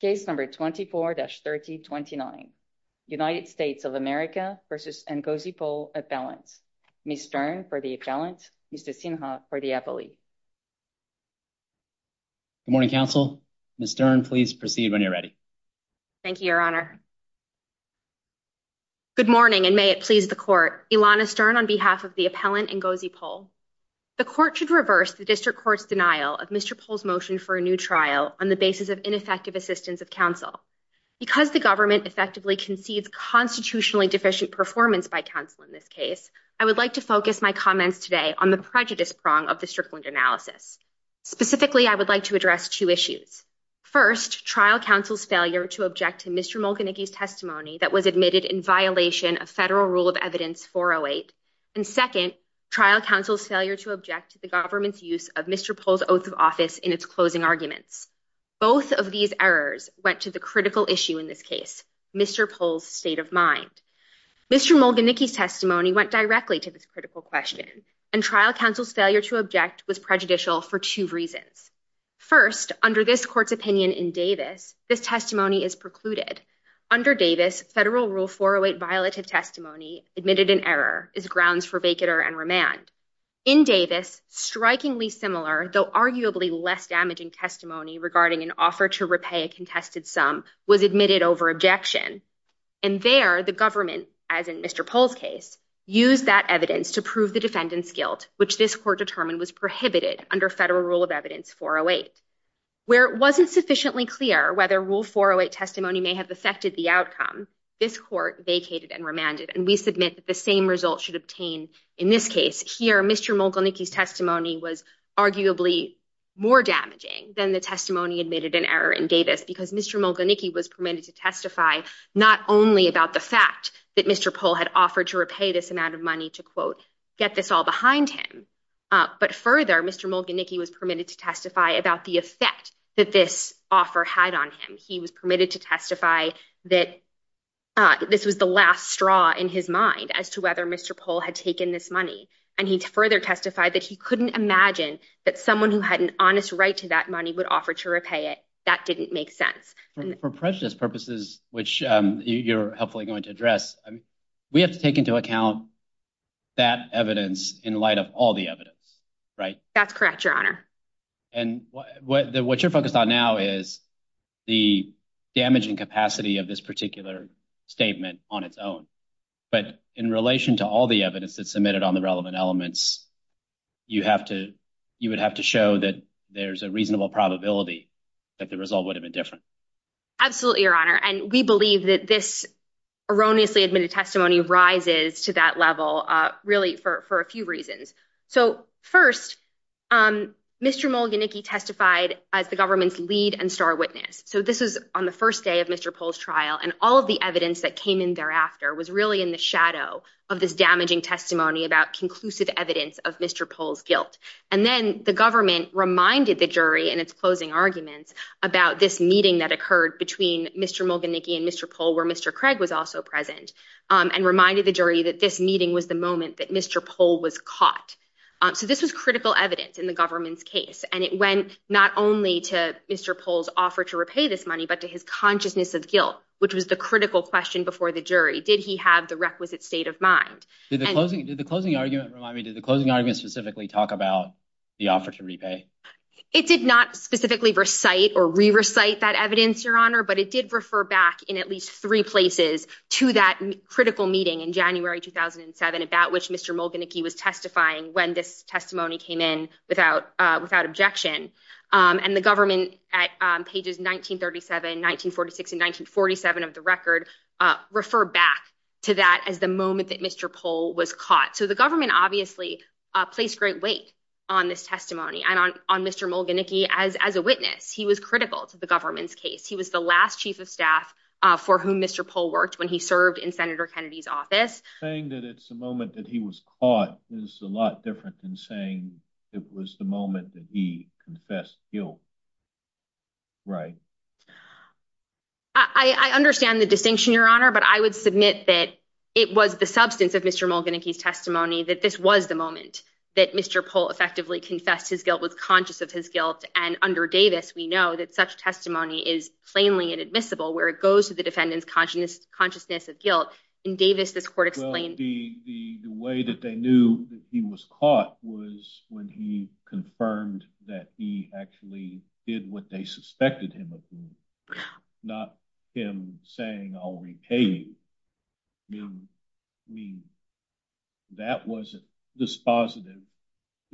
case number 24-3029 United States of America v. Ngozi Pole appellants Ms. Stern for the appellant, Mr. Sinha for the appellee. Good morning, counsel. Ms. Stern, please proceed when you're ready. Thank you, your honor. Good morning, and may it please the court. Ilana Stern on behalf of the appellant Ngozi Pole. The court should reverse the district court's denial of Mr. Pole's motion for a new trial on the basis of ineffective assistance of counsel. Because the government effectively concedes constitutionally deficient performance by counsel in this case, I would like to focus my comments today on the prejudice prong of the Strickland analysis. Specifically, I would like to address two issues. First, trial counsel's failure to object to Mr. Mulcanigy's testimony that was admitted in violation of Federal Rule of Evidence 408. And second, trial counsel's failure to object to the government's use of Mr. Pole's oath of office in its closing arguments. Both of these errors went to the critical issue in this case, Mr. Pole's state of mind. Mr. Mulcanigy's testimony went directly to this critical question. And trial counsel's failure to object was prejudicial for two reasons. First, under this court's opinion in Davis, this testimony is precluded. Under Davis, Federal Rule 408 violative testimony admitted in error is grounds for vacater and remand. In Davis, strikingly similar, though arguably less damaging testimony regarding an offer to repay a contested sum was admitted over objection. And there, the government, as in Mr. Pole's case, used that evidence to prove the defendant's guilt, which this court determined was prohibited under Federal Rule of Evidence 408. Where it wasn't sufficiently clear whether Rule 408 testimony may have affected the outcome, this court vacated and remanded. And we submit that the same result should obtain in this case. Here, Mr. Mulcanigy's testimony was arguably more damaging than the testimony admitted in error in Davis because Mr. Mulcanigy was permitted to testify not only about the fact that Mr. Pole had offered to repay this amount of money to, quote, get this all behind him. But further, Mr. Mulcanigy was permitted to testify about the effect that this offer had on him. He was permitted to testify that this was the last straw in his mind as to whether Mr. Pole had taken this money. And he further testified that he couldn't imagine that someone who had an honest right to that money would offer to repay it. That didn't make sense. For prejudice purposes, which you're hopefully going to address, we have to take into account that evidence in light of all the evidence, right? That's correct, Your Honor. And what you're focused on now is the damaging capacity of this particular statement on its own. But in relation to all the evidence that's submitted on the relevant elements, you would have to show that there's a reasonable probability that the result would have been different. Absolutely, Your Honor. And we believe that this erroneously admitted testimony rises to that level really for a few reasons. So first, Mr. Mulcanigy testified as the government's lead and star witness. So this is on the first day of Mr. Pole's trial. And all of the evidence that came in thereafter was really in the shadow of this damaging testimony about conclusive evidence of Mr. Pole's guilt. And then the government reminded the jury in its closing arguments about this meeting that occurred between Mr. Mulcanigy and Mr. Pole, where Mr. Craig was also present, and reminded the jury that this meeting was the moment that Mr. Pole was caught. So this was critical evidence in the government's case. And it went not only to Mr. Pole's offer to repay this money, but to his consciousness of guilt, which was the critical question before the jury. Did he have the requisite state of mind? Did the closing argument specifically talk about the offer to repay? It did not specifically recite or re-recite that evidence, Your Honor, but it did refer back in at least three places to that critical meeting in January 2007, about which Mr. Mulcanigy was testifying when this testimony came in without objection. And the government at pages 1937, 1946, and 1947 of the record refer back to that as the moment that Mr. Pole was caught. So the government obviously placed great weight on this testimony and on Mr. Mulcanigy as a witness. He was critical to the government's case. He was the last chief of staff for whom Mr. Pole worked when he served in Senator Kennedy's office. Saying that it's the moment that he was caught is a lot different than saying it was the moment that he confessed guilt, right? I understand the distinction, Your Honor, but I would submit that it was the substance of Mr. Mulcanigy's testimony that this was the moment that Mr. Pole effectively confessed his guilt, was conscious of his guilt. And under Davis, we know that such testimony is plainly inadmissible where it goes to the defendant's consciousness of guilt. Well, the way that they knew that he was caught was when he confirmed that he actually did what they suspected him of doing, not him saying, I'll repay you. I mean, that wasn't dispositive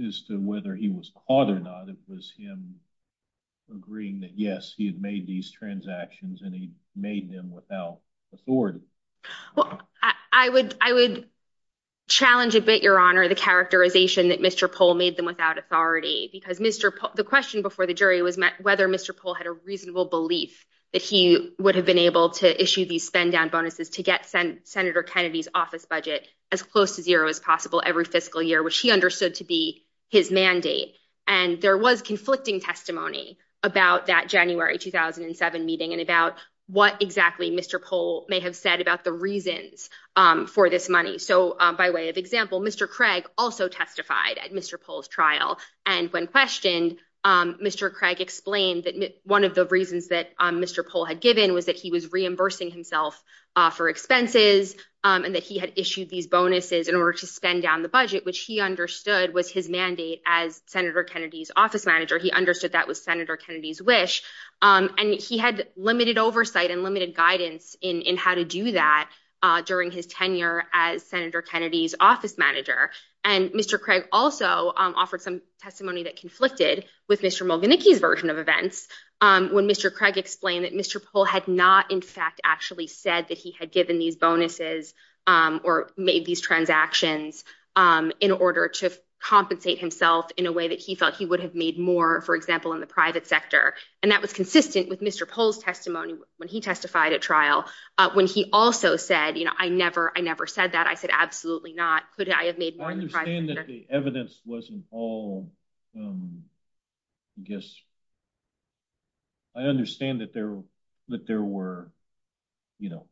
as to whether he was caught or not. It was him agreeing that, yes, he had made these transactions and he made them without authority. Well, I would challenge a bit, Your Honor, the characterization that Mr. Pole made them without authority. Because the question before the jury was whether Mr. Pole had a reasonable belief that he would have been able to issue these spend-down bonuses to get Senator Kennedy's office budget as close to zero as possible every fiscal year, which he understood to be his mandate. And there was conflicting testimony about that January 2007 meeting and about what exactly Mr. Pole may have said about the reasons for this money. So by way of example, Mr. Craig also testified at Mr. Pole's trial. And when questioned, Mr. Craig explained that one of the reasons that Mr. Pole had given was that he was reimbursing himself for expenses and that he had issued these bonuses in order to spend down the budget, which he understood was his mandate as Senator Kennedy's office manager. He understood that was Senator Kennedy's wish. And he had limited oversight and limited guidance in how to do that during his tenure as Senator Kennedy's office manager. And Mr. Craig also offered some testimony that conflicted with Mr. Mulganicki's version of events when Mr. Craig explained that Mr. Pole had not, in fact, actually said that he had given these bonuses or made these transactions in order to compensate himself in a way that he felt he would have made more, for example, in the private sector. And that was consistent with Mr. Pole's testimony when he testified at trial, when he also said, you know, I never, I never said that. I said, absolutely not. Could I have made more in the private sector? I understand that the evidence wasn't all, I guess, I understand that there were, you know,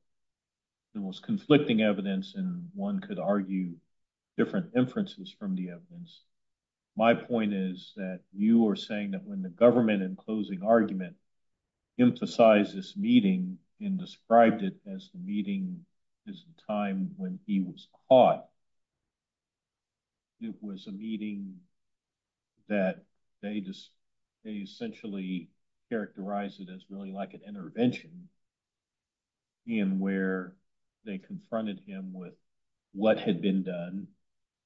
there was conflicting evidence and one could argue different inferences from the evidence. My point is that you are saying that when the government, in closing argument, emphasized this meeting and described it as the meeting is the time when he was caught. It was a meeting that they just, they essentially characterized it as really like an intervention in where they confronted him with what had been done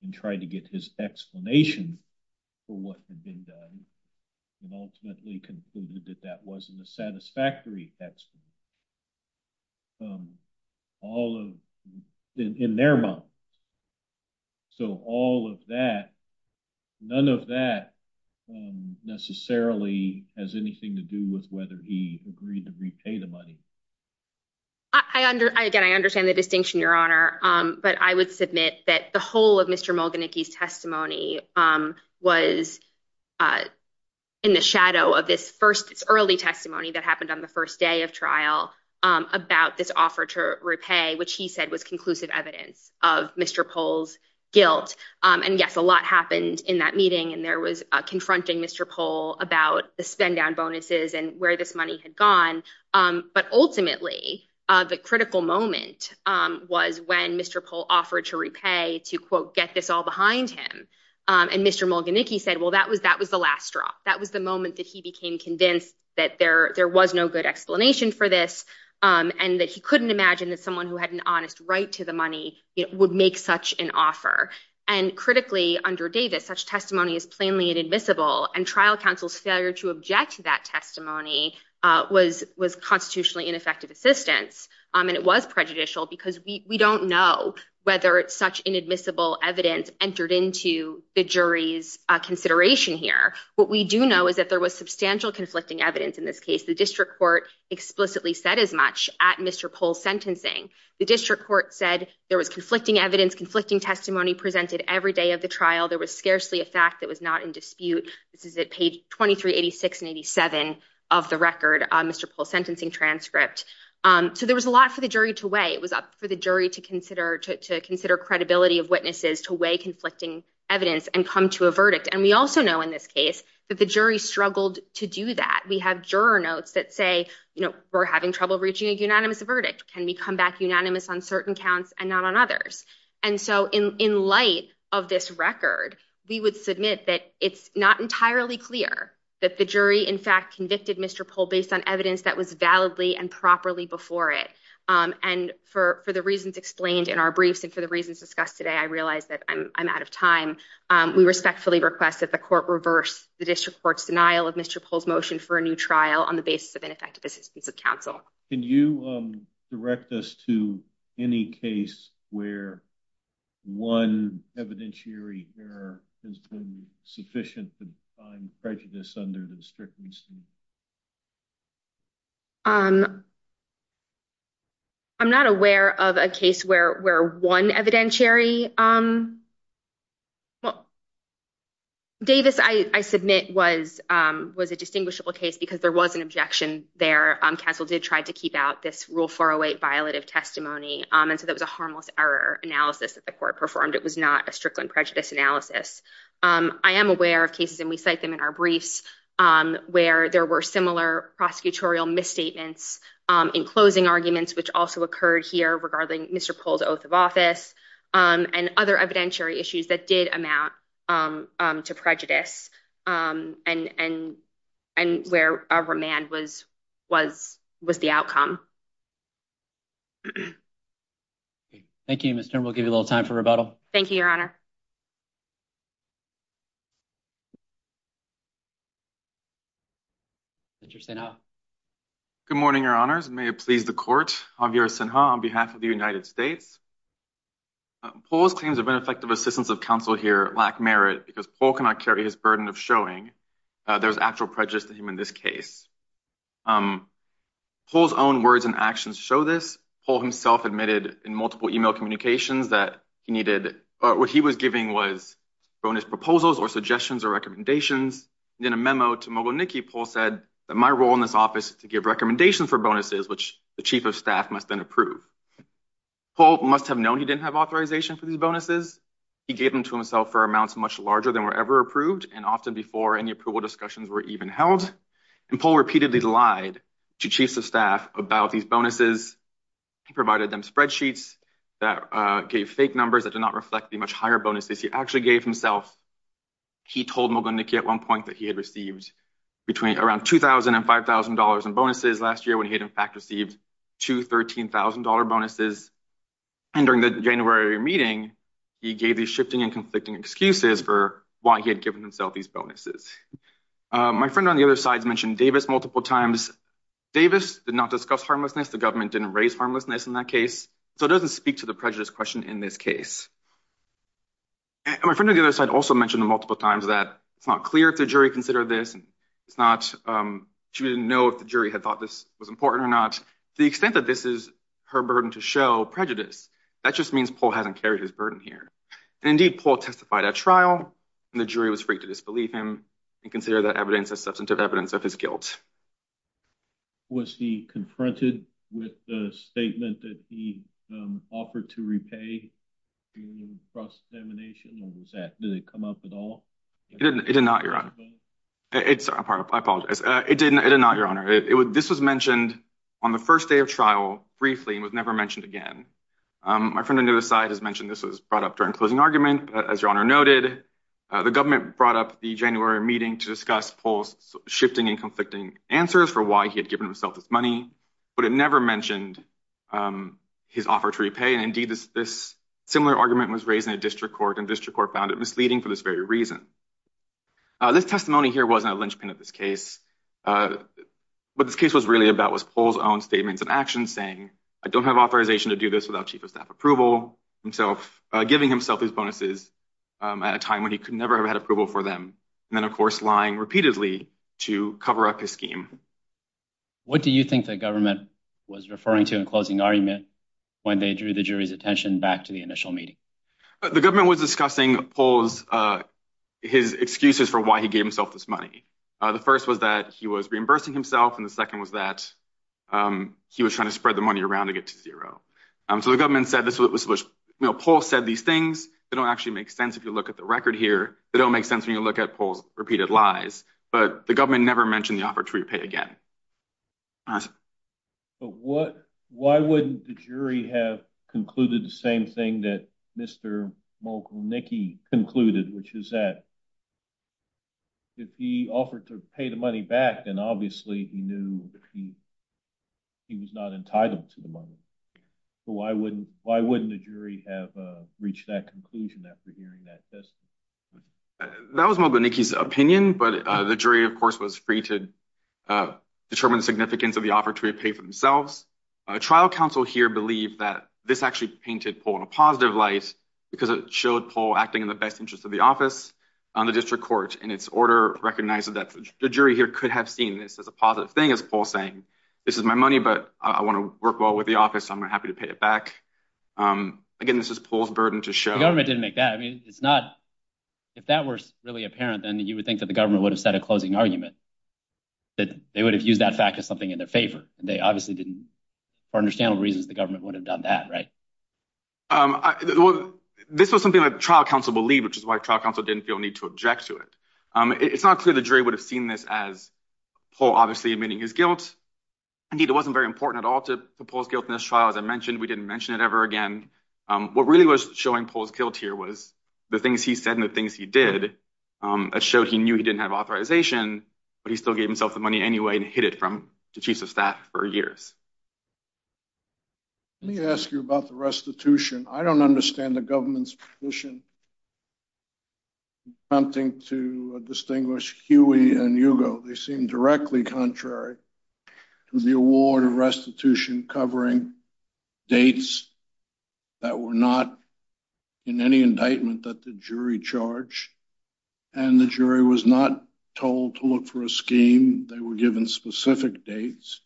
and tried to get his explanation for what had been done and ultimately concluded that that wasn't a satisfactory explanation. All in their mouth. So, all of that, none of that necessarily has anything to do with whether he agreed to repay the money. I, again, I understand the distinction, Your Honor, but I would submit that the whole of Mr. Mulganicki's testimony was in the shadow of this first early testimony that happened on the first day of trial about this offer to repay, which he said was conclusive evidence of Mr. And, yes, a lot happened in that meeting and there was confronting Mr. Pohl about the spend down bonuses and where this money had gone. But ultimately, the critical moment was when Mr. Pohl offered to repay to, quote, get this all behind him. And Mr. Mulganicki said, well, that was that was the last straw. That was the moment that he became convinced that there there was no good explanation for this and that he couldn't imagine that someone who had an honest right to the money would make such an offer. And critically, under Davis, such testimony is plainly inadmissible. And trial counsel's failure to object to that testimony was was constitutionally ineffective assistance. And it was prejudicial because we don't know whether it's such inadmissible evidence entered into the jury's consideration here. What we do know is that there was substantial conflicting evidence in this case. The district court explicitly said as much at Mr. Pohl's sentencing. The district court said there was conflicting evidence, conflicting testimony presented every day of the trial. There was scarcely a fact that was not in dispute. This is at page twenty three, eighty six and eighty seven of the record. Mr. Pohl's sentencing transcript. So there was a lot for the jury to weigh. It was up for the jury to consider, to consider credibility of witnesses, to weigh conflicting evidence and come to a verdict. And we also know in this case that the jury struggled to do that. We have juror notes that say, you know, we're having trouble reaching a unanimous verdict. Can we come back unanimous on certain counts and not on others? And so in light of this record, we would submit that it's not entirely clear that the jury, in fact, convicted Mr. Pohl based on evidence that was validly and properly before it. And for the reasons explained in our briefs and for the reasons discussed today, I realize that I'm out of time. We respectfully request that the court reverse the district court's denial of Mr. Pohl's motion for a new trial on the basis of ineffective assistance of counsel. Can you direct us to any case where one evidentiary error has been sufficient to find prejudice under the district? I'm not aware of a case where one evidentiary. Davis, I submit, was a distinguishable case because there was an objection there. Counsel did try to keep out this Rule 408 violative testimony. And so that was a harmless error analysis that the court performed. It was not a strickland prejudice analysis. I am aware of cases and we cite them in our briefs where there were similar prosecutorial misstatements in closing arguments, which also occurred here regarding Mr. Pohl's oath of office and other evidentiary issues that did amount to prejudice and and and where a remand was was was the outcome. Thank you, Mr. We'll give you a little time for rebuttal. Thank you, Your Honor. Mr. Good morning, Your Honors. May it please the court. Javier Sinha on behalf of the United States. Pohl's claims of ineffective assistance of counsel here lack merit because Pohl cannot carry his burden of showing there's actual prejudice to him in this case. Pohl's own words and actions show this. Pohl himself admitted in multiple email communications that he needed. What he was giving was bonus proposals or suggestions or recommendations. In a memo to Mogleniki, Pohl said that my role in this office is to give recommendations for bonuses, which the chief of staff must then approve. Pohl must have known he didn't have authorization for these bonuses. He gave them to himself for amounts much larger than were ever approved and often before any approval discussions were even held. And Pohl repeatedly lied to chiefs of staff about these bonuses. He provided them spreadsheets that gave fake numbers that did not reflect the much higher bonuses he actually gave himself. He told Mogleniki at one point that he had received between around $2,000 and $5,000 in bonuses last year when he had, in fact, received two $13,000 bonuses. And during the January meeting, he gave these shifting and conflicting excuses for why he had given himself these bonuses. My friend on the other side has mentioned Davis multiple times. Davis did not discuss harmlessness. The government didn't raise harmlessness in that case, so it doesn't speak to the prejudice question in this case. And my friend on the other side also mentioned multiple times that it's not clear if the jury considered this. It's not – she didn't know if the jury had thought this was important or not. To the extent that this is her burden to show prejudice, that just means Pohl hasn't carried his burden here. And indeed, Pohl testified at trial, and the jury was free to disbelieve him and consider that evidence as substantive evidence of his guilt. Was he confronted with the statement that he offered to repay the trust indemnation? Or was that – did it come up at all? It did not, Your Honor. I apologize. It did not, Your Honor. This was mentioned on the first day of trial briefly and was never mentioned again. My friend on the other side has mentioned this was brought up during closing argument, as Your Honor noted. The government brought up the January meeting to discuss Pohl's shifting and conflicting answers for why he had given himself this money, but it never mentioned his offer to repay. And indeed, this similar argument was raised in a district court, and district court found it misleading for this very reason. This testimony here wasn't a linchpin of this case. What this case was really about was Pohl's own statements of action, saying, I don't have authorization to do this without chief of staff approval, himself giving himself these bonuses at a time when he could never have had approval for them, and then, of course, lying repeatedly to cover up his scheme. What do you think the government was referring to in closing argument when they drew the jury's attention back to the initial meeting? The government was discussing Pohl's – his excuses for why he gave himself this money. The first was that he was reimbursing himself, and the second was that he was trying to spread the money around to get to zero. So the government said this was – you know, Pohl said these things. They don't actually make sense if you look at the record here. They don't make sense when you look at Pohl's repeated lies. But the government never mentioned the offer to repay again. But what – why wouldn't the jury have concluded the same thing that Mr. Mogelnicki concluded, which is that if he offered to pay the money back, then obviously he knew he was not entitled to the money. So why wouldn't – why wouldn't the jury have reached that conclusion after hearing that testimony? That was Mogelnicki's opinion, but the jury, of course, was free to determine the significance of the offer to repay for themselves. Trial counsel here believe that this actually painted Pohl in a positive light because it showed Pohl acting in the best interest of the office on the district court. And its order recognized that the jury here could have seen this as a positive thing, as Pohl's saying. This is my money, but I want to work well with the office, so I'm happy to pay it back. Again, this is Pohl's burden to show. But the government didn't make that. I mean, it's not – if that were really apparent, then you would think that the government would have set a closing argument, that they would have used that fact as something in their favor. And they obviously didn't, for understandable reasons, the government would have done that, right? This was something that trial counsel believed, which is why trial counsel didn't feel a need to object to it. It's not clear the jury would have seen this as Pohl obviously admitting his guilt. Indeed, it wasn't very important at all to Pohl's guilt in this trial. As I mentioned, we didn't mention it ever again. What really was showing Pohl's guilt here was the things he said and the things he did that showed he knew he didn't have authorization, but he still gave himself the money anyway and hid it from the chiefs of staff for years. Let me ask you about the restitution. I don't understand the government's position attempting to distinguish Huey and Hugo. They seem directly contrary to the award of restitution covering dates that were not in any indictment that the jury charged, and the jury was not told to look for a scheme. They were given specific dates,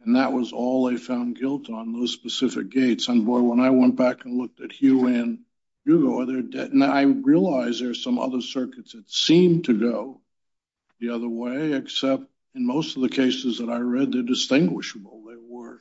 and that was all they found guilt on, those specific dates. And boy, when I went back and looked at Huey and Hugo, I realized there were some other circuits that seemed to go the other way, except in most of the cases that I read, they're distinguishable. They were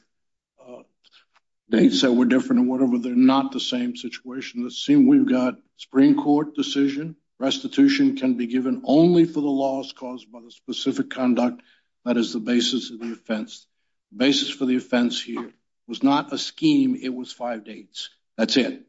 dates that were different or whatever. They're not the same situation. It seems we've got a Supreme Court decision. Restitution can be given only for the laws caused by the specific conduct that is the basis of the offense. The basis for the offense here was not a scheme. It was five dates. That's it.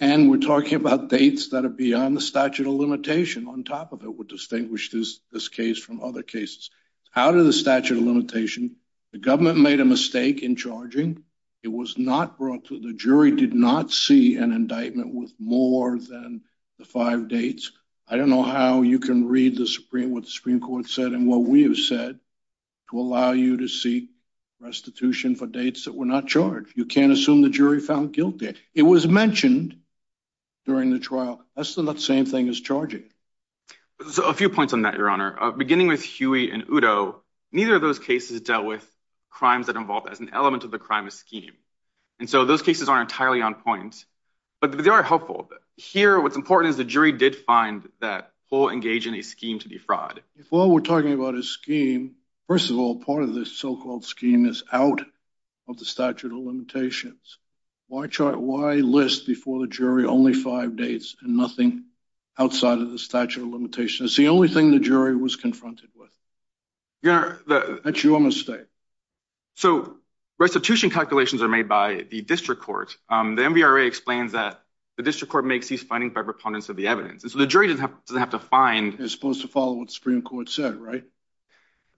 And we're talking about dates that are beyond the statute of limitation. On top of it would distinguish this case from other cases. Out of the statute of limitation, the government made a mistake in charging. It was not brought to the jury, did not see an indictment with more than the five dates. I don't know how you can read what the Supreme Court said and what we have said to allow you to seek restitution for dates that were not charged. You can't assume the jury found guilt there. It was mentioned during the trial. That's the same thing as charging. So a few points on that, Your Honor. Beginning with Huey and Udo, neither of those cases dealt with crimes that involved as an element of the crime scheme. And so those cases aren't entirely on point, but they are helpful. Here, what's important is the jury did find that Paul engaged in a scheme to defraud. While we're talking about a scheme, first of all, part of this so-called scheme is out of the statute of limitations. Why list before the jury only five dates and nothing outside of the statute of limitations? It's the only thing the jury was confronted with. That's your mistake. So restitution calculations are made by the district court. The MVRA explains that the district court makes these findings by proponents of the evidence. So the jury doesn't have to find. It's supposed to follow what the Supreme Court said, right?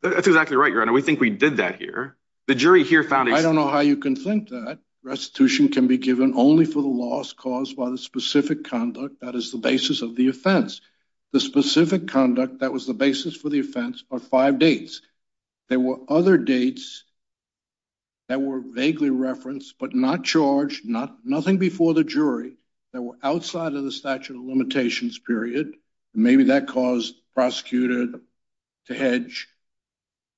That's exactly right, Your Honor. We think we did that here. The jury here found. I don't know how you can think that restitution can be given only for the laws caused by the specific conduct. That is the basis of the offense. The specific conduct that was the basis for the offense are five dates. There were other dates that were vaguely referenced but not charged, nothing before the jury that were outside of the statute of limitations period. Maybe that caused the prosecutor to hedge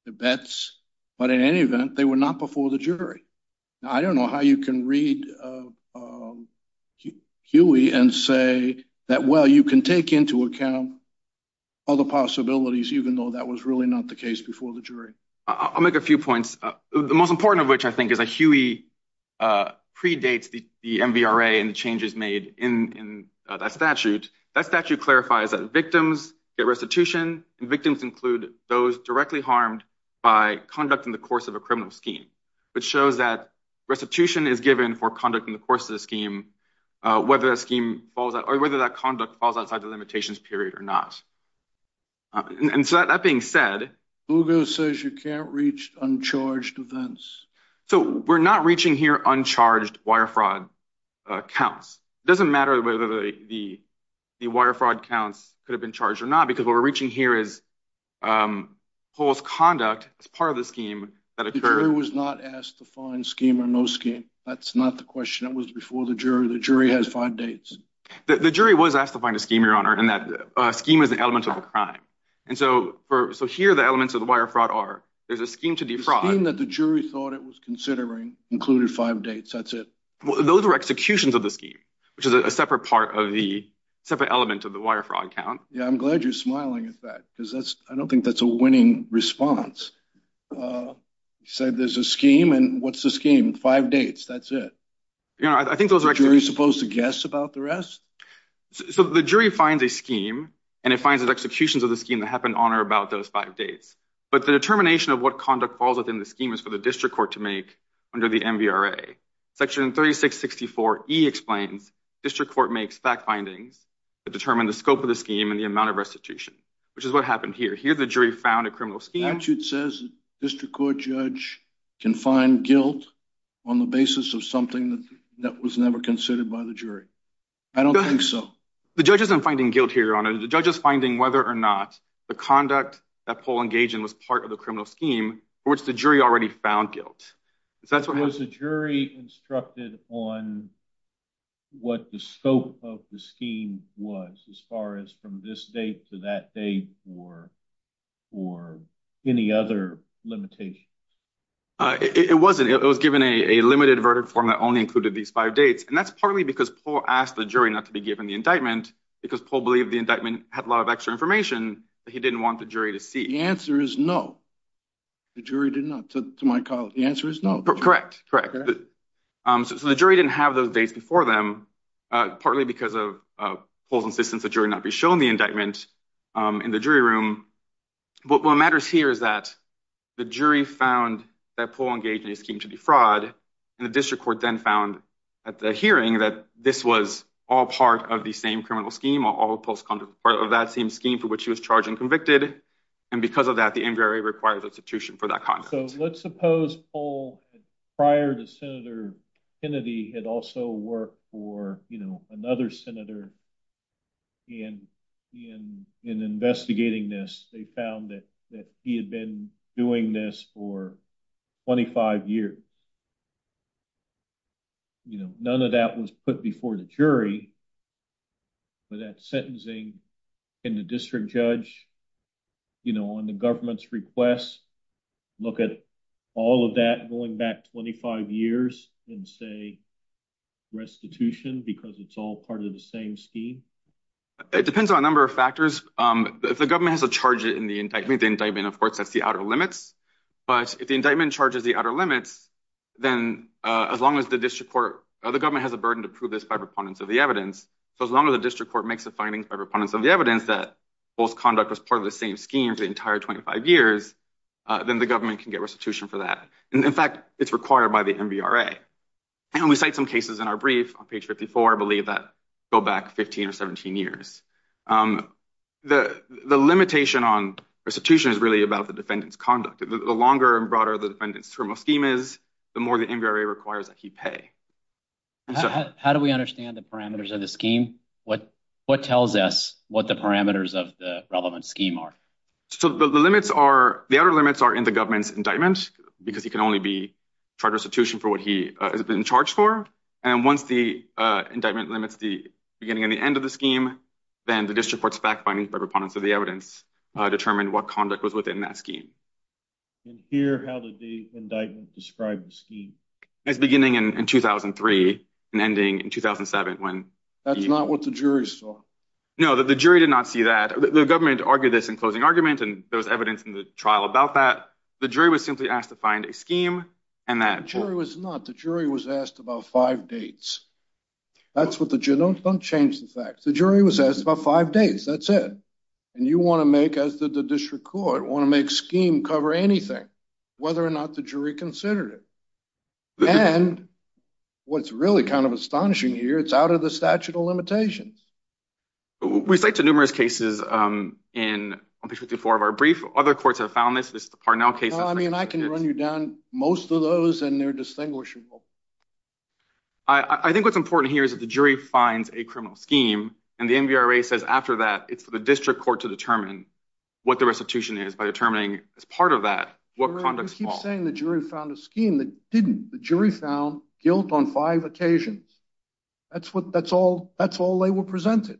the bets. But in any event, they were not before the jury. I don't know how you can read Huey and say that, well, you can take into account all the possibilities, even though that was really not the case before the jury. I'll make a few points. The most important of which I think is a Huey predates the MVRA and the changes made in that statute. That statute clarifies that victims get restitution. Victims include those directly harmed by conduct in the course of a criminal scheme. It shows that restitution is given for conduct in the course of the scheme, whether that scheme falls out or whether that conduct falls outside the limitations period or not. And so that being said. Hugo says you can't reach uncharged events. So we're not reaching here uncharged wire fraud counts. It doesn't matter whether the wire fraud counts could have been charged or not, because what we're reaching here is post-conduct as part of the scheme that occurred. The jury was not asked to find scheme or no scheme. That's not the question. That was before the jury. The jury has five dates. The jury was asked to find a scheme, Your Honor, and that scheme is an element of a crime. And so here the elements of the wire fraud are. There's a scheme to defraud. The scheme that the jury thought it was considering included five dates. That's it. Those are executions of the scheme, which is a separate part of the separate element of the wire fraud count. Yeah, I'm glad you're smiling. In fact, because that's I don't think that's a winning response. So there's a scheme. And what's the scheme? Five dates. That's it. I think those are actually supposed to guess about the rest. So the jury finds a scheme and it finds that executions of the scheme that happened on or about those five dates. But the determination of what conduct falls within the scheme is for the district court to make under the MVRA. Section 3664 E explains district court makes fact findings that determine the scope of the scheme and the amount of restitution, which is what happened here. Here the jury found a criminal scheme. Statute says district court judge can find guilt on the basis of something that was never considered by the jury. I don't think so. The judge isn't finding guilt here, Your Honor. The judge is finding whether or not the conduct that Paul engaged in was part of the criminal scheme, which the jury already found guilt. So that's what was the jury instructed on what the scope of the scheme was as far as from this date to that date or or any other limitations. It wasn't. It was given a limited verdict form that only included these five dates. And that's partly because Paul asked the jury not to be given the indictment because Paul believed the indictment had a lot of extra information. He didn't want the jury to see. The answer is no. The jury did not to my college. The answer is no. Correct. Correct. So the jury didn't have those dates before them, partly because of Paul's insistence that jury not be shown the indictment in the jury room. But what matters here is that the jury found that Paul engaged in a scheme to defraud. And the district court then found at the hearing that this was all part of the same criminal scheme, all of that same scheme for which he was charged and convicted. And because of that, the inquiry requires institution for that. So let's suppose all prior to Senator Kennedy had also worked for another senator. And in investigating this, they found that he had been doing this for 25 years. You know, none of that was put before the jury. But that sentencing in the district judge, you know, on the government's request, look at all of that going back 25 years and say restitution because it's all part of the same scheme. It depends on a number of factors. If the government has a charge in the indictment, the indictment, of course, that's the outer limits. But if the indictment charges the outer limits, then as long as the district court or the government has a burden to prove this by proponents of the evidence. So as long as the district court makes a finding by proponents of the evidence that Paul's conduct was part of the same scheme for the entire 25 years, then the government can get restitution for that. And in fact, it's required by the MVRA. And we cite some cases in our brief on page 54, I believe that go back 15 or 17 years. The limitation on restitution is really about the defendant's conduct. The longer and broader the defendant's term of scheme is, the more the MVRA requires that he pay. How do we understand the parameters of the scheme? What tells us what the parameters of the relevant scheme are? So the limits are, the outer limits are in the government's indictment, because he can only be charged restitution for what he has been charged for. And once the indictment limits the beginning and the end of the scheme, then the district court's back finding by proponents of the evidence determined what conduct was within that scheme. And here, how did the indictment describe the scheme? It's beginning in 2003 and ending in 2007. That's not what the jury saw. No, the jury did not see that. The government argued this in closing argument, and there was evidence in the trial about that. The jury was simply asked to find a scheme. The jury was not. The jury was asked about five dates. Don't change the facts. The jury was asked about five dates. That's it. And you want to make, as did the district court, want to make scheme cover anything, whether or not the jury considered it. And what's really kind of astonishing here, it's out of the statute of limitations. We cite to numerous cases in page 54 of our brief. Other courts have found this. This is the Parnell case. I mean, I can run you down most of those, and they're distinguishable. I think what's important here is that the jury finds a criminal scheme, and the NVRA says after that it's for the district court to determine what the restitution is by determining as part of that what conducts fault. I'm not saying the jury found a scheme that didn't. The jury found guilt on five occasions. That's all they were presented.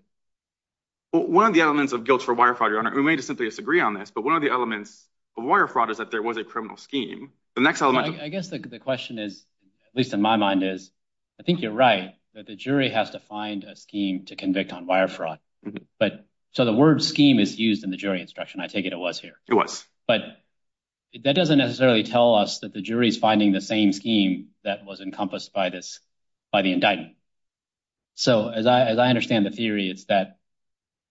One of the elements of guilt for wire fraud, Your Honor, we may just simply disagree on this, but one of the elements of wire fraud is that there was a criminal scheme. I guess the question is, at least in my mind, is I think you're right that the jury has to find a scheme to convict on wire fraud. So the word scheme is used in the jury instruction. I take it it was here. It was. But that doesn't necessarily tell us that the jury is finding the same scheme that was encompassed by the indictment. So as I understand the theory, it's that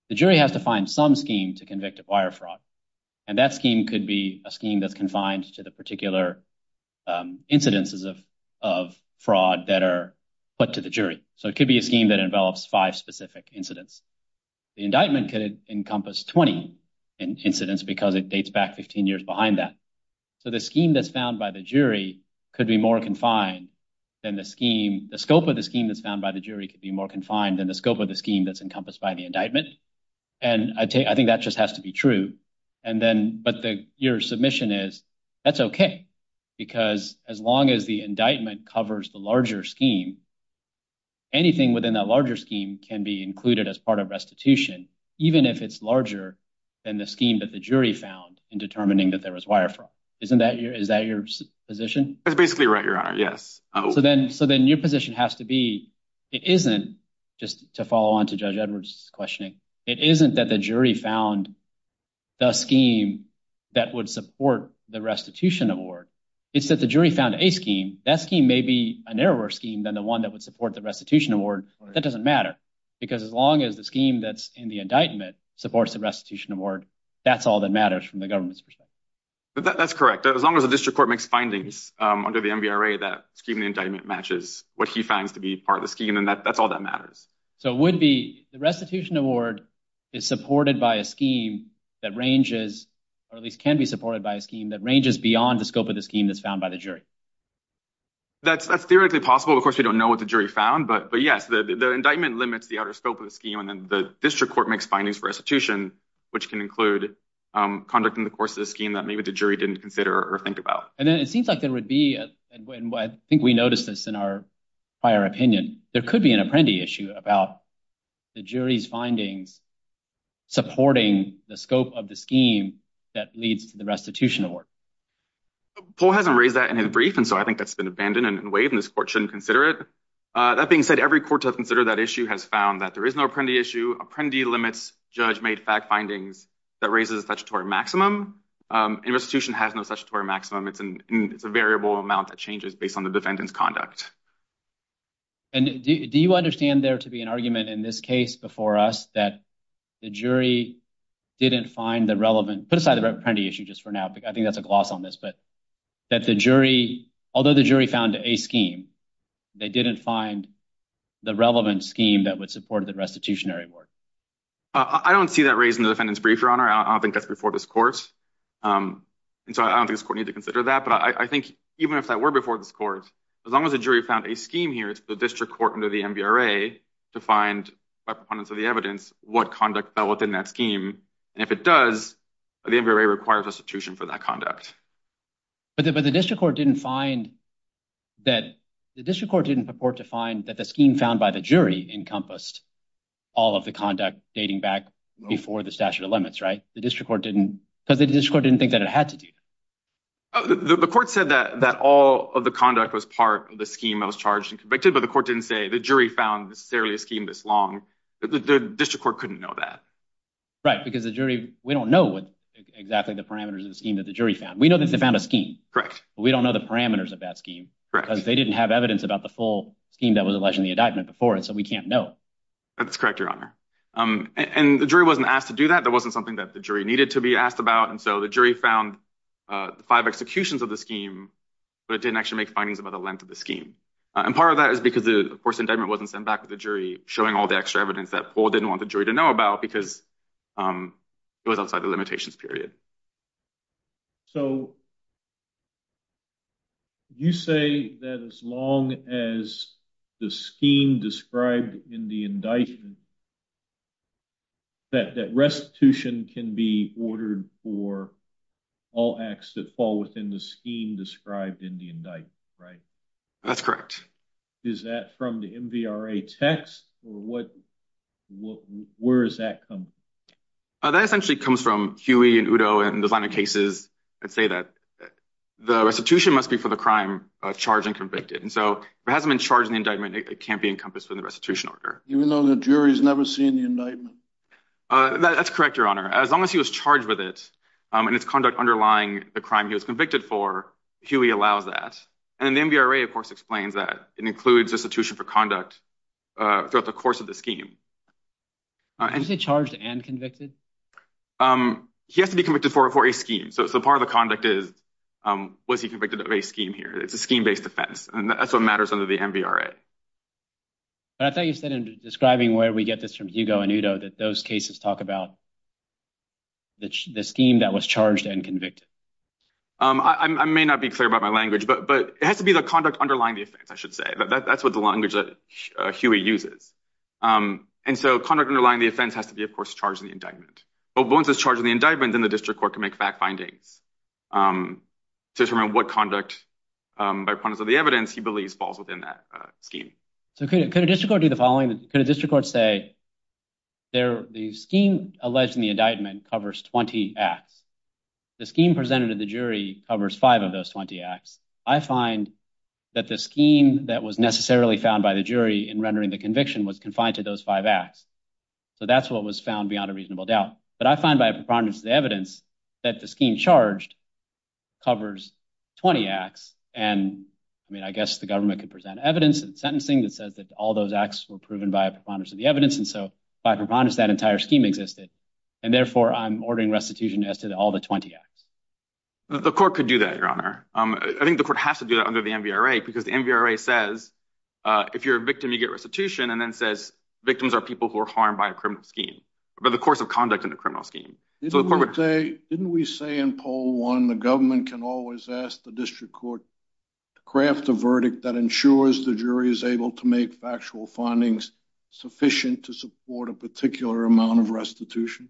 the jury has to find some scheme to convict of wire fraud, and that scheme could be a scheme that's confined to the particular incidences of fraud that are put to the jury. So it could be a scheme that envelops five specific incidents. The indictment could encompass 20 incidents because it dates back 15 years behind that. So the scheme that's found by the jury could be more confined than the scheme. The scope of the scheme that's found by the jury could be more confined than the scope of the scheme that's encompassed by the indictment. And I think that just has to be true. But your submission is, that's OK, because as long as the indictment covers the larger scheme, anything within that larger scheme can be included as part of restitution, even if it's larger than the scheme that the jury found in determining that there was wire fraud. Is that your position? That's basically right, Your Honor. Yes. So then your position has to be, it isn't, just to follow on to Judge Edwards' questioning, it isn't that the jury found the scheme that would support the restitution award. It's that the jury found a scheme, that scheme may be a narrower scheme than the one that would support the restitution award, but that doesn't matter. Because as long as the scheme that's in the indictment supports the restitution award, that's all that matters from the government's perspective. That's correct. As long as the district court makes findings under the MVRA that the indictment matches what he finds to be part of the scheme, then that's all that matters. So it would be, the restitution award is supported by a scheme that ranges, or at least can be supported by a scheme that ranges beyond the scope of the scheme that's found by the jury. That's theoretically possible. Of course, we don't know what the jury found, but yes, the indictment limits the outer scope of the scheme, and then the district court makes findings for restitution, which can include conduct in the course of the scheme that maybe the jury didn't consider or think about. And then it seems like there would be, and I think we noticed this in our prior opinion, there could be an apprendee issue about the jury's findings supporting the scope of the scheme that leads to the restitution award. Paul hasn't raised that in his brief, and so I think that's been abandoned and waived, and this court shouldn't consider it. That being said, every court to have considered that issue has found that there is no apprendee issue. Apprendee limits judge-made fact findings that raises the statutory maximum, and restitution has no statutory maximum. It's a variable amount that changes based on the defendant's conduct. And do you understand there to be an argument in this case before us that the jury didn't find the relevant – put aside the apprendee issue just for now. I think that's a gloss on this, but that the jury – although the jury found a scheme, they didn't find the relevant scheme that would support the restitutionary award. I don't see that raised in the defendant's brief, Your Honor. I don't think that's before this court, and so I don't think this court needs to consider that. But I think even if that were before this court, as long as the jury found a scheme here, it's the district court under the MVRA to find, by proponents of the evidence, what conduct fell within that scheme. And if it does, the MVRA requires restitution for that conduct. But the district court didn't find that – the district court didn't purport to find that the scheme found by the jury encompassed all of the conduct dating back before the statute of limits, right? The district court didn't – because the district court didn't think that it had to do that. The court said that all of the conduct was part of the scheme that was charged and convicted, but the court didn't say the jury found necessarily a scheme this long. The district court couldn't know that. Right, because the jury – we don't know exactly the parameters of the scheme that the jury found. We know that they found a scheme. Correct. But we don't know the parameters of that scheme. Correct. Because they didn't have evidence about the full scheme that was alleged in the indictment before it, so we can't know. That's correct, Your Honor. And the jury wasn't asked to do that. That wasn't something that the jury needed to be asked about. And so the jury found five executions of the scheme, but it didn't actually make findings about the length of the scheme. And part of that is because, of course, the indictment wasn't sent back to the jury, showing all the extra evidence that Paul didn't want the jury to know about because it was outside the limitations period. So you say that as long as the scheme described in the indictment, that restitution can be ordered for all acts that fall within the scheme described in the indictment, right? That's correct. Is that from the MVRA text, or what – where does that come from? That essentially comes from Huey and Udo and those other cases that say that the restitution must be for the crime charged and convicted. And so if it hasn't been charged in the indictment, it can't be encompassed within the restitution order. Even though the jury's never seen the indictment? That's correct, Your Honor. As long as he was charged with it and its conduct underlying the crime he was convicted for, Huey allows that. And the MVRA, of course, explains that. It includes restitution for conduct throughout the course of the scheme. Did you say charged and convicted? He has to be convicted for a scheme. So part of the conduct is, was he convicted of a scheme here? It's a scheme-based offense, and that's what matters under the MVRA. But I thought you said in describing where we get this from Hugo and Udo that those cases talk about the scheme that was charged and convicted. I may not be clear about my language, but it has to be the conduct underlying the offense, I should say. That's what the language that Huey uses. And so conduct underlying the offense has to be, of course, charged in the indictment. But once it's charged in the indictment, then the district court can make fact findings to determine what conduct, by prudence of the evidence, he believes falls within that scheme. So could a district court do the following? Could a district court say the scheme alleged in the indictment covers 20 acts? The scheme presented to the jury covers five of those 20 acts. I find that the scheme that was necessarily found by the jury in rendering the conviction was confined to those five acts. So that's what was found beyond a reasonable doubt. But I find by a preponderance of the evidence that the scheme charged covers 20 acts. And I mean, I guess the government could present evidence and sentencing that says that all those acts were proven by a preponderance of the evidence. And so by preponderance, that entire scheme existed. And therefore, I'm ordering restitution as to all the 20 acts. The court could do that, Your Honor. I think the court has to do that under the MVRA, because the MVRA says if you're a victim, you get restitution. And then says victims are people who are harmed by a criminal scheme, by the course of conduct in the criminal scheme. Didn't we say in poll one the government can always ask the district court to craft a verdict that ensures the jury is able to make factual findings sufficient to support a particular amount of restitution?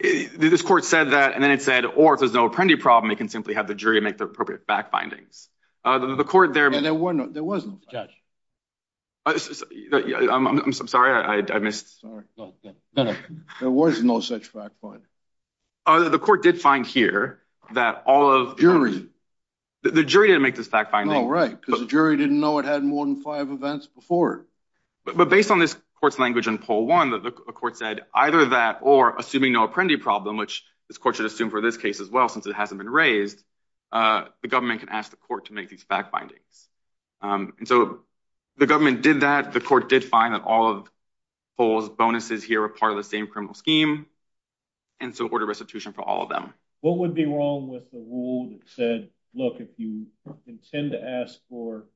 This court said that, and then it said, or if there's no apprendee problem, it can simply have the jury make the appropriate fact findings. The court there. There was no fact finding. I'm sorry, I missed. There was no such fact finding. The court did find here that all of. The jury didn't make this fact finding. No, right, because the jury didn't know it had more than five events before. But based on this court's language in poll one, the court said either that or assuming no apprendee problem, which this court should assume for this case as well, since it hasn't been raised. The government can ask the court to make these fact findings. And so the government did that. The court did find that all of polls bonuses here are part of the same criminal scheme. And so order restitution for all of them. What would be wrong with the rule that said, look, if you intend to ask for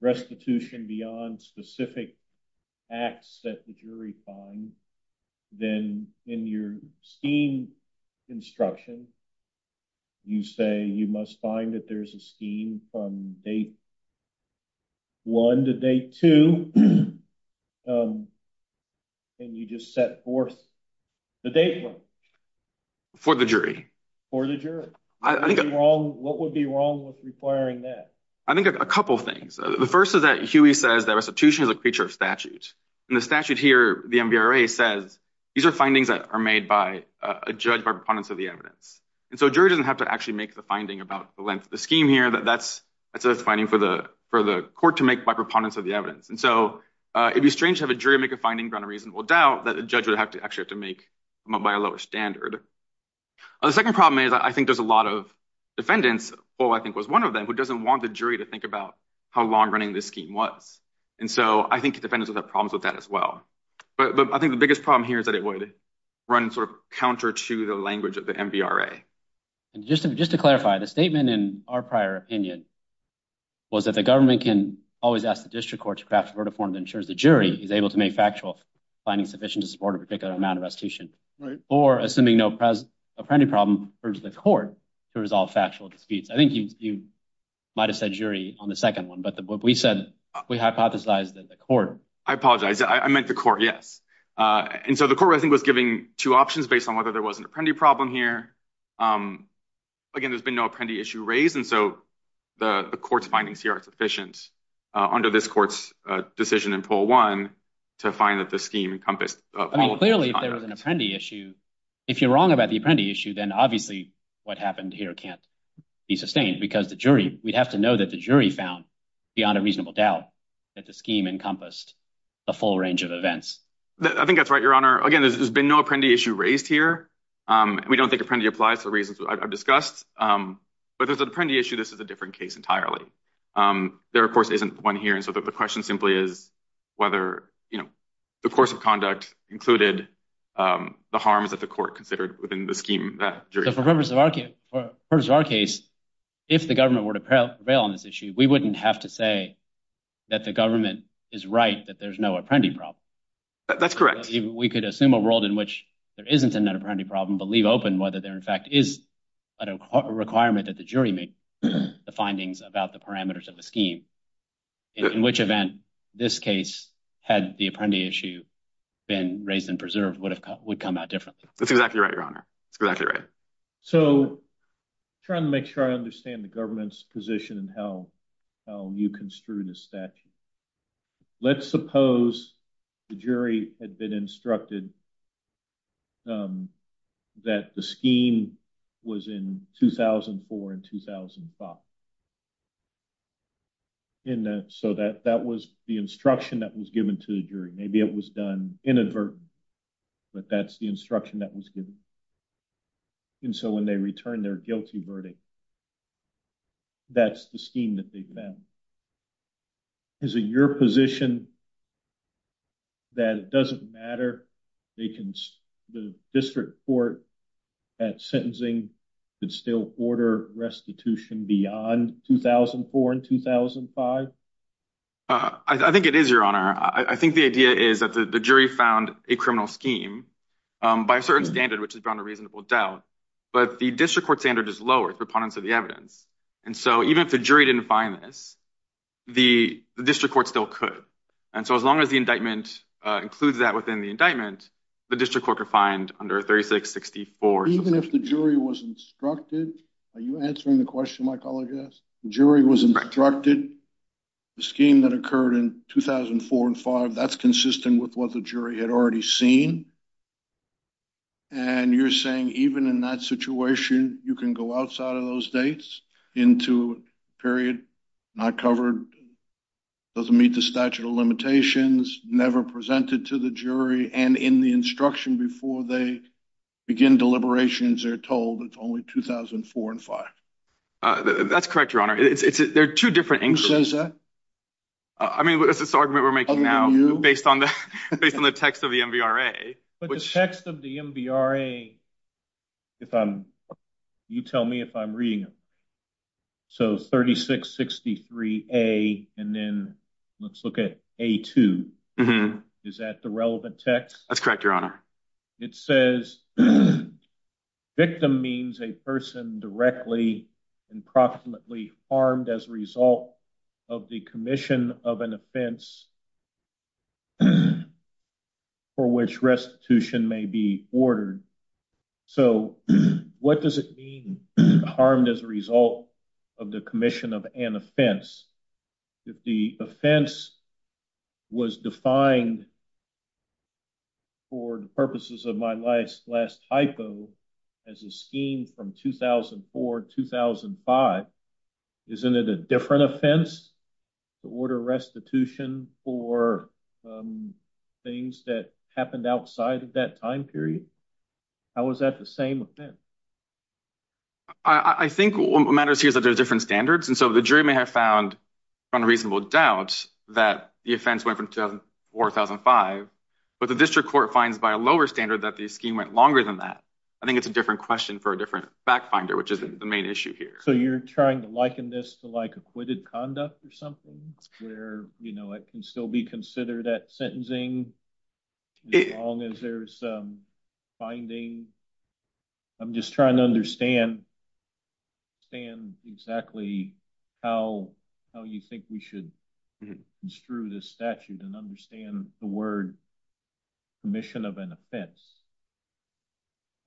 restitution beyond specific acts that the jury find, then in your scheme instruction, you say you must find that there's a scheme from day one to day two. And you just set forth the date. For the jury for the jury. I think what would be wrong with requiring that? I think a couple of things. The first is that Huey says that restitution is a creature of statute. And the statute here, the NBRA says these are findings that are made by a judge by proponents of the evidence. And so a jury doesn't have to actually make the finding about the length of the scheme here. That's a finding for the for the court to make by proponents of the evidence. And so it'd be strange to have a jury make a finding on a reasonable doubt that a judge would have to actually have to make by a lower standard. The second problem is, I think there's a lot of defendants. Well, I think was one of them who doesn't want the jury to think about how long running this scheme was. And so I think defendants have problems with that as well. But I think the biggest problem here is that it would run sort of counter to the language of the NBRA. And just to just to clarify, the statement in our prior opinion. Was that the government can always ask the district court to craft a verdict form that ensures the jury is able to make factual findings sufficient to support a particular amount of restitution. Right. Or assuming no present a problem for the court to resolve factual disputes. I think you might have said jury on the second one, but we said we hypothesized that the court. I apologize. I meant the court. Yes. And so the court, I think, was giving two options based on whether there was an apprentice problem here. Again, there's been no apprentice issue raised. And so the court's findings here are sufficient under this court's decision in poll one to find that the scheme encompassed. I mean, clearly, if there was an apprentice issue, if you're wrong about the apprentice issue, then obviously what happened here can't be sustained because the jury, we'd have to know that the jury found beyond a reasonable doubt that the scheme encompassed the full range of events. I think that's right, Your Honor. Again, there's been no apprentice issue raised here. We don't think apprentice applies to the reasons I've discussed. But there's an apprentice issue. This is a different case entirely. There, of course, isn't one here. And so the question simply is whether, you know, the course of conduct included the harms that the court considered within the scheme. For the purpose of our case, if the government were to prevail on this issue, we wouldn't have to say that the government is right, that there's no apprentice problem. That's correct. We could assume a world in which there isn't an apprentice problem, but leave open whether there in fact is a requirement that the jury make the findings about the parameters of the scheme. In which event, this case, had the apprentice issue been raised and preserved, would come out differently. That's exactly right, Your Honor. That's exactly right. So, trying to make sure I understand the government's position and how you construed the statute. Let's suppose the jury had been instructed that the scheme was in 2004 and 2005. And so that was the instruction that was given to the jury. Maybe it was done inadvertently, but that's the instruction that was given. And so when they returned their guilty verdict, that's the scheme that they found. Is it your position that it doesn't matter? The district court at sentencing could still order restitution beyond 2004 and 2005? I think it is, Your Honor. I think the idea is that the jury found a criminal scheme by a certain standard, which has brought a reasonable doubt. But the district court standard is lower, the proponents of the evidence. And so even if the jury didn't find this, the district court still could. And so as long as the indictment includes that within the indictment, the district court could find under 3664. Even if the jury was instructed? Are you answering the question, my colleague asked? The jury was instructed the scheme that occurred in 2004 and 2005, that's consistent with what the jury had already seen. And you're saying even in that situation, you can go outside of those dates into a period not covered, doesn't meet the statute of limitations, never presented to the jury. And in the instruction before they begin deliberations, they're told it's only 2004 and 2005. That's correct, Your Honor. There are two different answers. Who says that? I mean, what is this argument we're making now based on the based on the text of the M.B.R.A. But the text of the M.B.R.A. If I'm you tell me if I'm reading. So 3663 a and then let's look at a two. Is that the relevant text? That's correct, Your Honor. It says victim means a person directly and proximately harmed as a result of the commission of an offense. For which restitution may be ordered. So what does it mean harmed as a result of the commission of an offense? If the offense was defined. For the purposes of my life's last hypo as a scheme from 2004, 2005. Isn't it a different offense to order restitution for things that happened outside of that time period? I was at the same event. I think what matters here is that there are different standards. And so the jury may have found unreasonable doubts that the offense went from 2004, 2005. But the district court finds by a lower standard that the scheme went longer than that. I think it's a different question for a different back finder, which is the main issue here. So you're trying to liken this to like acquitted conduct or something where, you know, it can still be considered that sentencing. As long as there's some finding. I'm just trying to understand. Stand exactly how you think we should construe this statute and understand the word commission of an offense.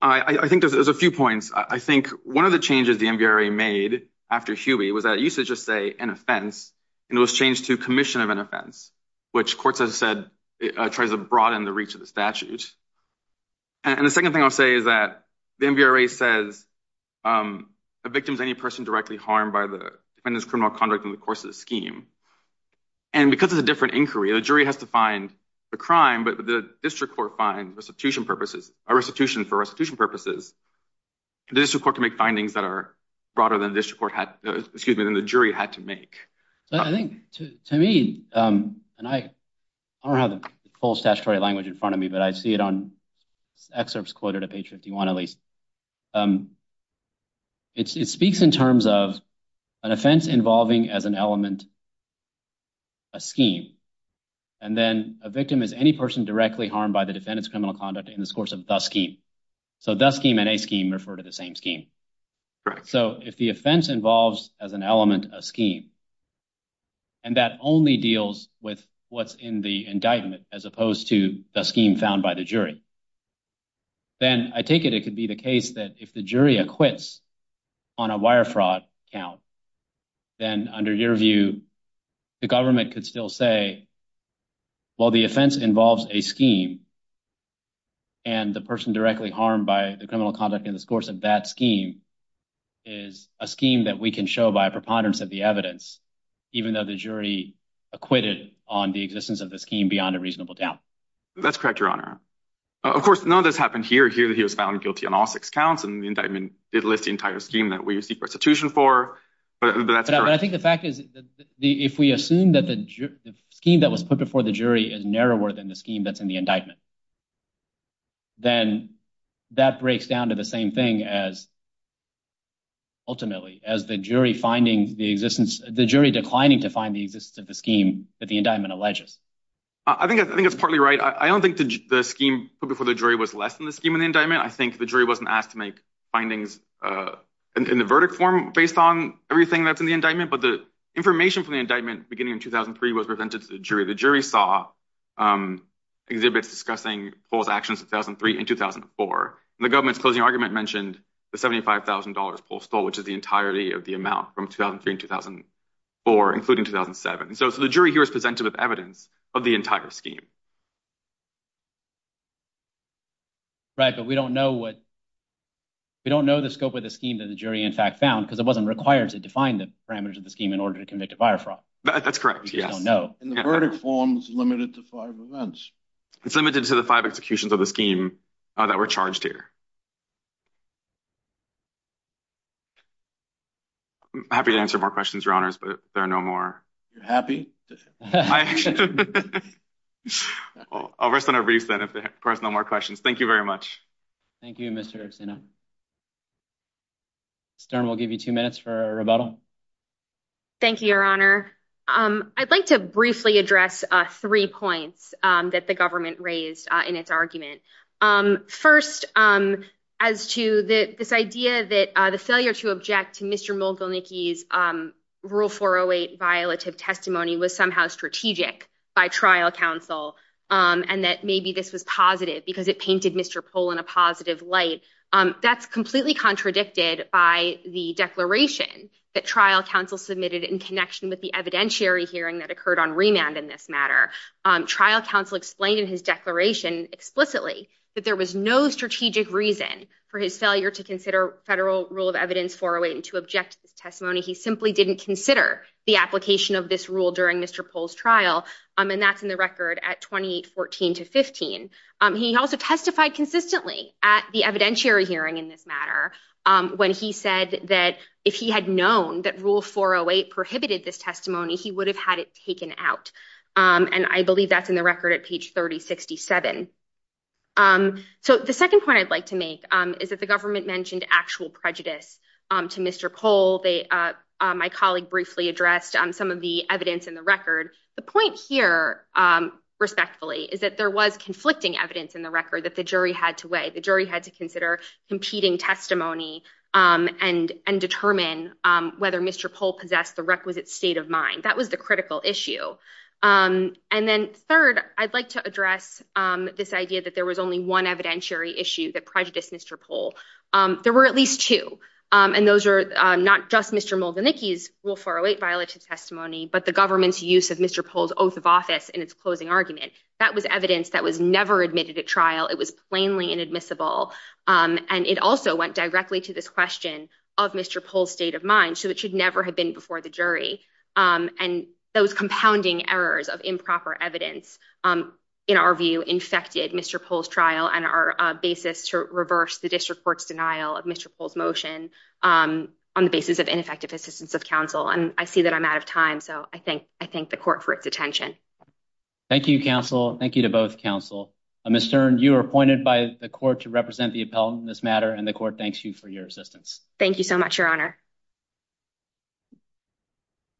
I think there's a few points. I think one of the changes the MVRA made after Huey was that usage of, say, an offense. And it was changed to commission of an offense, which courts have said tries to broaden the reach of the statute. And the second thing I'll say is that the MVRA says a victim is any person directly harmed by the criminal conduct in the course of the scheme. And because it's a different inquiry, the jury has to find the crime. But the district court finds restitution for restitution purposes. The district court can make findings that are broader than the jury had to make. I think to me, and I don't have the full statutory language in front of me, but I see it on excerpts quoted at page 51 at least. It speaks in terms of an offense involving as an element a scheme. And then a victim is any person directly harmed by the defendant's criminal conduct in the course of the scheme. So the scheme and a scheme refer to the same scheme. So if the offense involves as an element a scheme, and that only deals with what's in the indictment as opposed to the scheme found by the jury, then I take it it could be the case that if the jury acquits on a wire fraud count, then under your view, the government could still say, well, the offense involves a scheme. And the person directly harmed by the criminal conduct in the course of that scheme is a scheme that we can show by a preponderance of the evidence, even though the jury acquitted on the existence of the scheme beyond a reasonable doubt. That's correct, Your Honor. Of course, none of this happened here. Here he was found guilty on all six counts, and the indictment did list the entire scheme that we seek restitution for. But I think the fact is that if we assume that the scheme that was put before the jury is narrower than the scheme that's in the indictment. Then that breaks down to the same thing as. Ultimately, as the jury finding the existence, the jury declining to find the existence of the scheme that the indictment alleges. I think I think it's partly right. I don't think the scheme before the jury was less than the scheme in the indictment. I think the jury wasn't asked to make findings in the verdict form based on everything that's in the indictment. But the information from the indictment beginning in 2003 was presented to the jury. The jury saw exhibits discussing false actions in 2003 and 2004. The government's closing argument mentioned the seventy five thousand dollars Paul stole, which is the entirety of the amount from 2003 and 2004, including 2007. So the jury here is presented with evidence of the entire scheme. Right, but we don't know what. We don't know the scope of the scheme that the jury, in fact, found because it wasn't required to define the parameters of the scheme in order to convict a fire fraud. That's correct. Yes. No, the verdict form is limited to five events. It's limited to the five executions of the scheme that were charged here. I'm happy to answer more questions, your honors, but there are no more. You're happy. I'll send a brief that if there are no more questions. Thank you very much. Thank you, Mr. Stern. We'll give you two minutes for a rebuttal. Thank you, your honor. I'd like to briefly address three points that the government raised in its argument. First, as to this idea that the failure to object to Mr. Mogul Nikki's rule for a weight violative testimony was somehow strategic by trial counsel and that maybe this was positive because it painted Mr. Poll in a positive light. That's completely contradicted by the declaration that trial counsel submitted in connection with the evidentiary hearing that occurred on remand in this matter. Trial counsel explained in his declaration explicitly that there was no strategic reason for his failure to consider federal rule of evidence for a way to object to this testimony. He simply didn't consider the application of this rule during Mr. Poll's trial. And that's in the record at twenty fourteen to fifteen. He also testified consistently at the evidentiary hearing in this matter when he said that if he had known that rule for a way prohibited this testimony, he would have had it taken out. And I believe that's in the record at page thirty sixty seven. So the second point I'd like to make is that the government mentioned actual prejudice to Mr. Poll. My colleague briefly addressed some of the evidence in the record. The point here, respectfully, is that there was conflicting evidence in the record that the jury had to weigh. The jury had to consider competing testimony and and determine whether Mr. Poll possessed the requisite state of mind. That was the critical issue. And then third, I'd like to address this idea that there was only one evidentiary issue that prejudiced Mr. Poll. There were at least two. And those are not just Mr. Molden, Nicky's will for a weight violation testimony, but the government's use of Mr. Poll's oath of office in its closing argument. That was evidence that was never admitted at trial. It was plainly inadmissible. And it also went directly to this question of Mr. Poll's state of mind. So it should never have been before the jury. And those compounding errors of improper evidence, in our view, infected Mr. Poll's trial and our basis to reverse the district court's denial of Mr. Poll's motion on the basis of ineffective assistance of counsel. And I see that I'm out of time. So I think I thank the court for its attention. Thank you, counsel. Thank you to both counsel. Mr. Stern, you are appointed by the court to represent the appellant in this matter. And the court thanks you for your assistance. Thank you so much, Your Honor.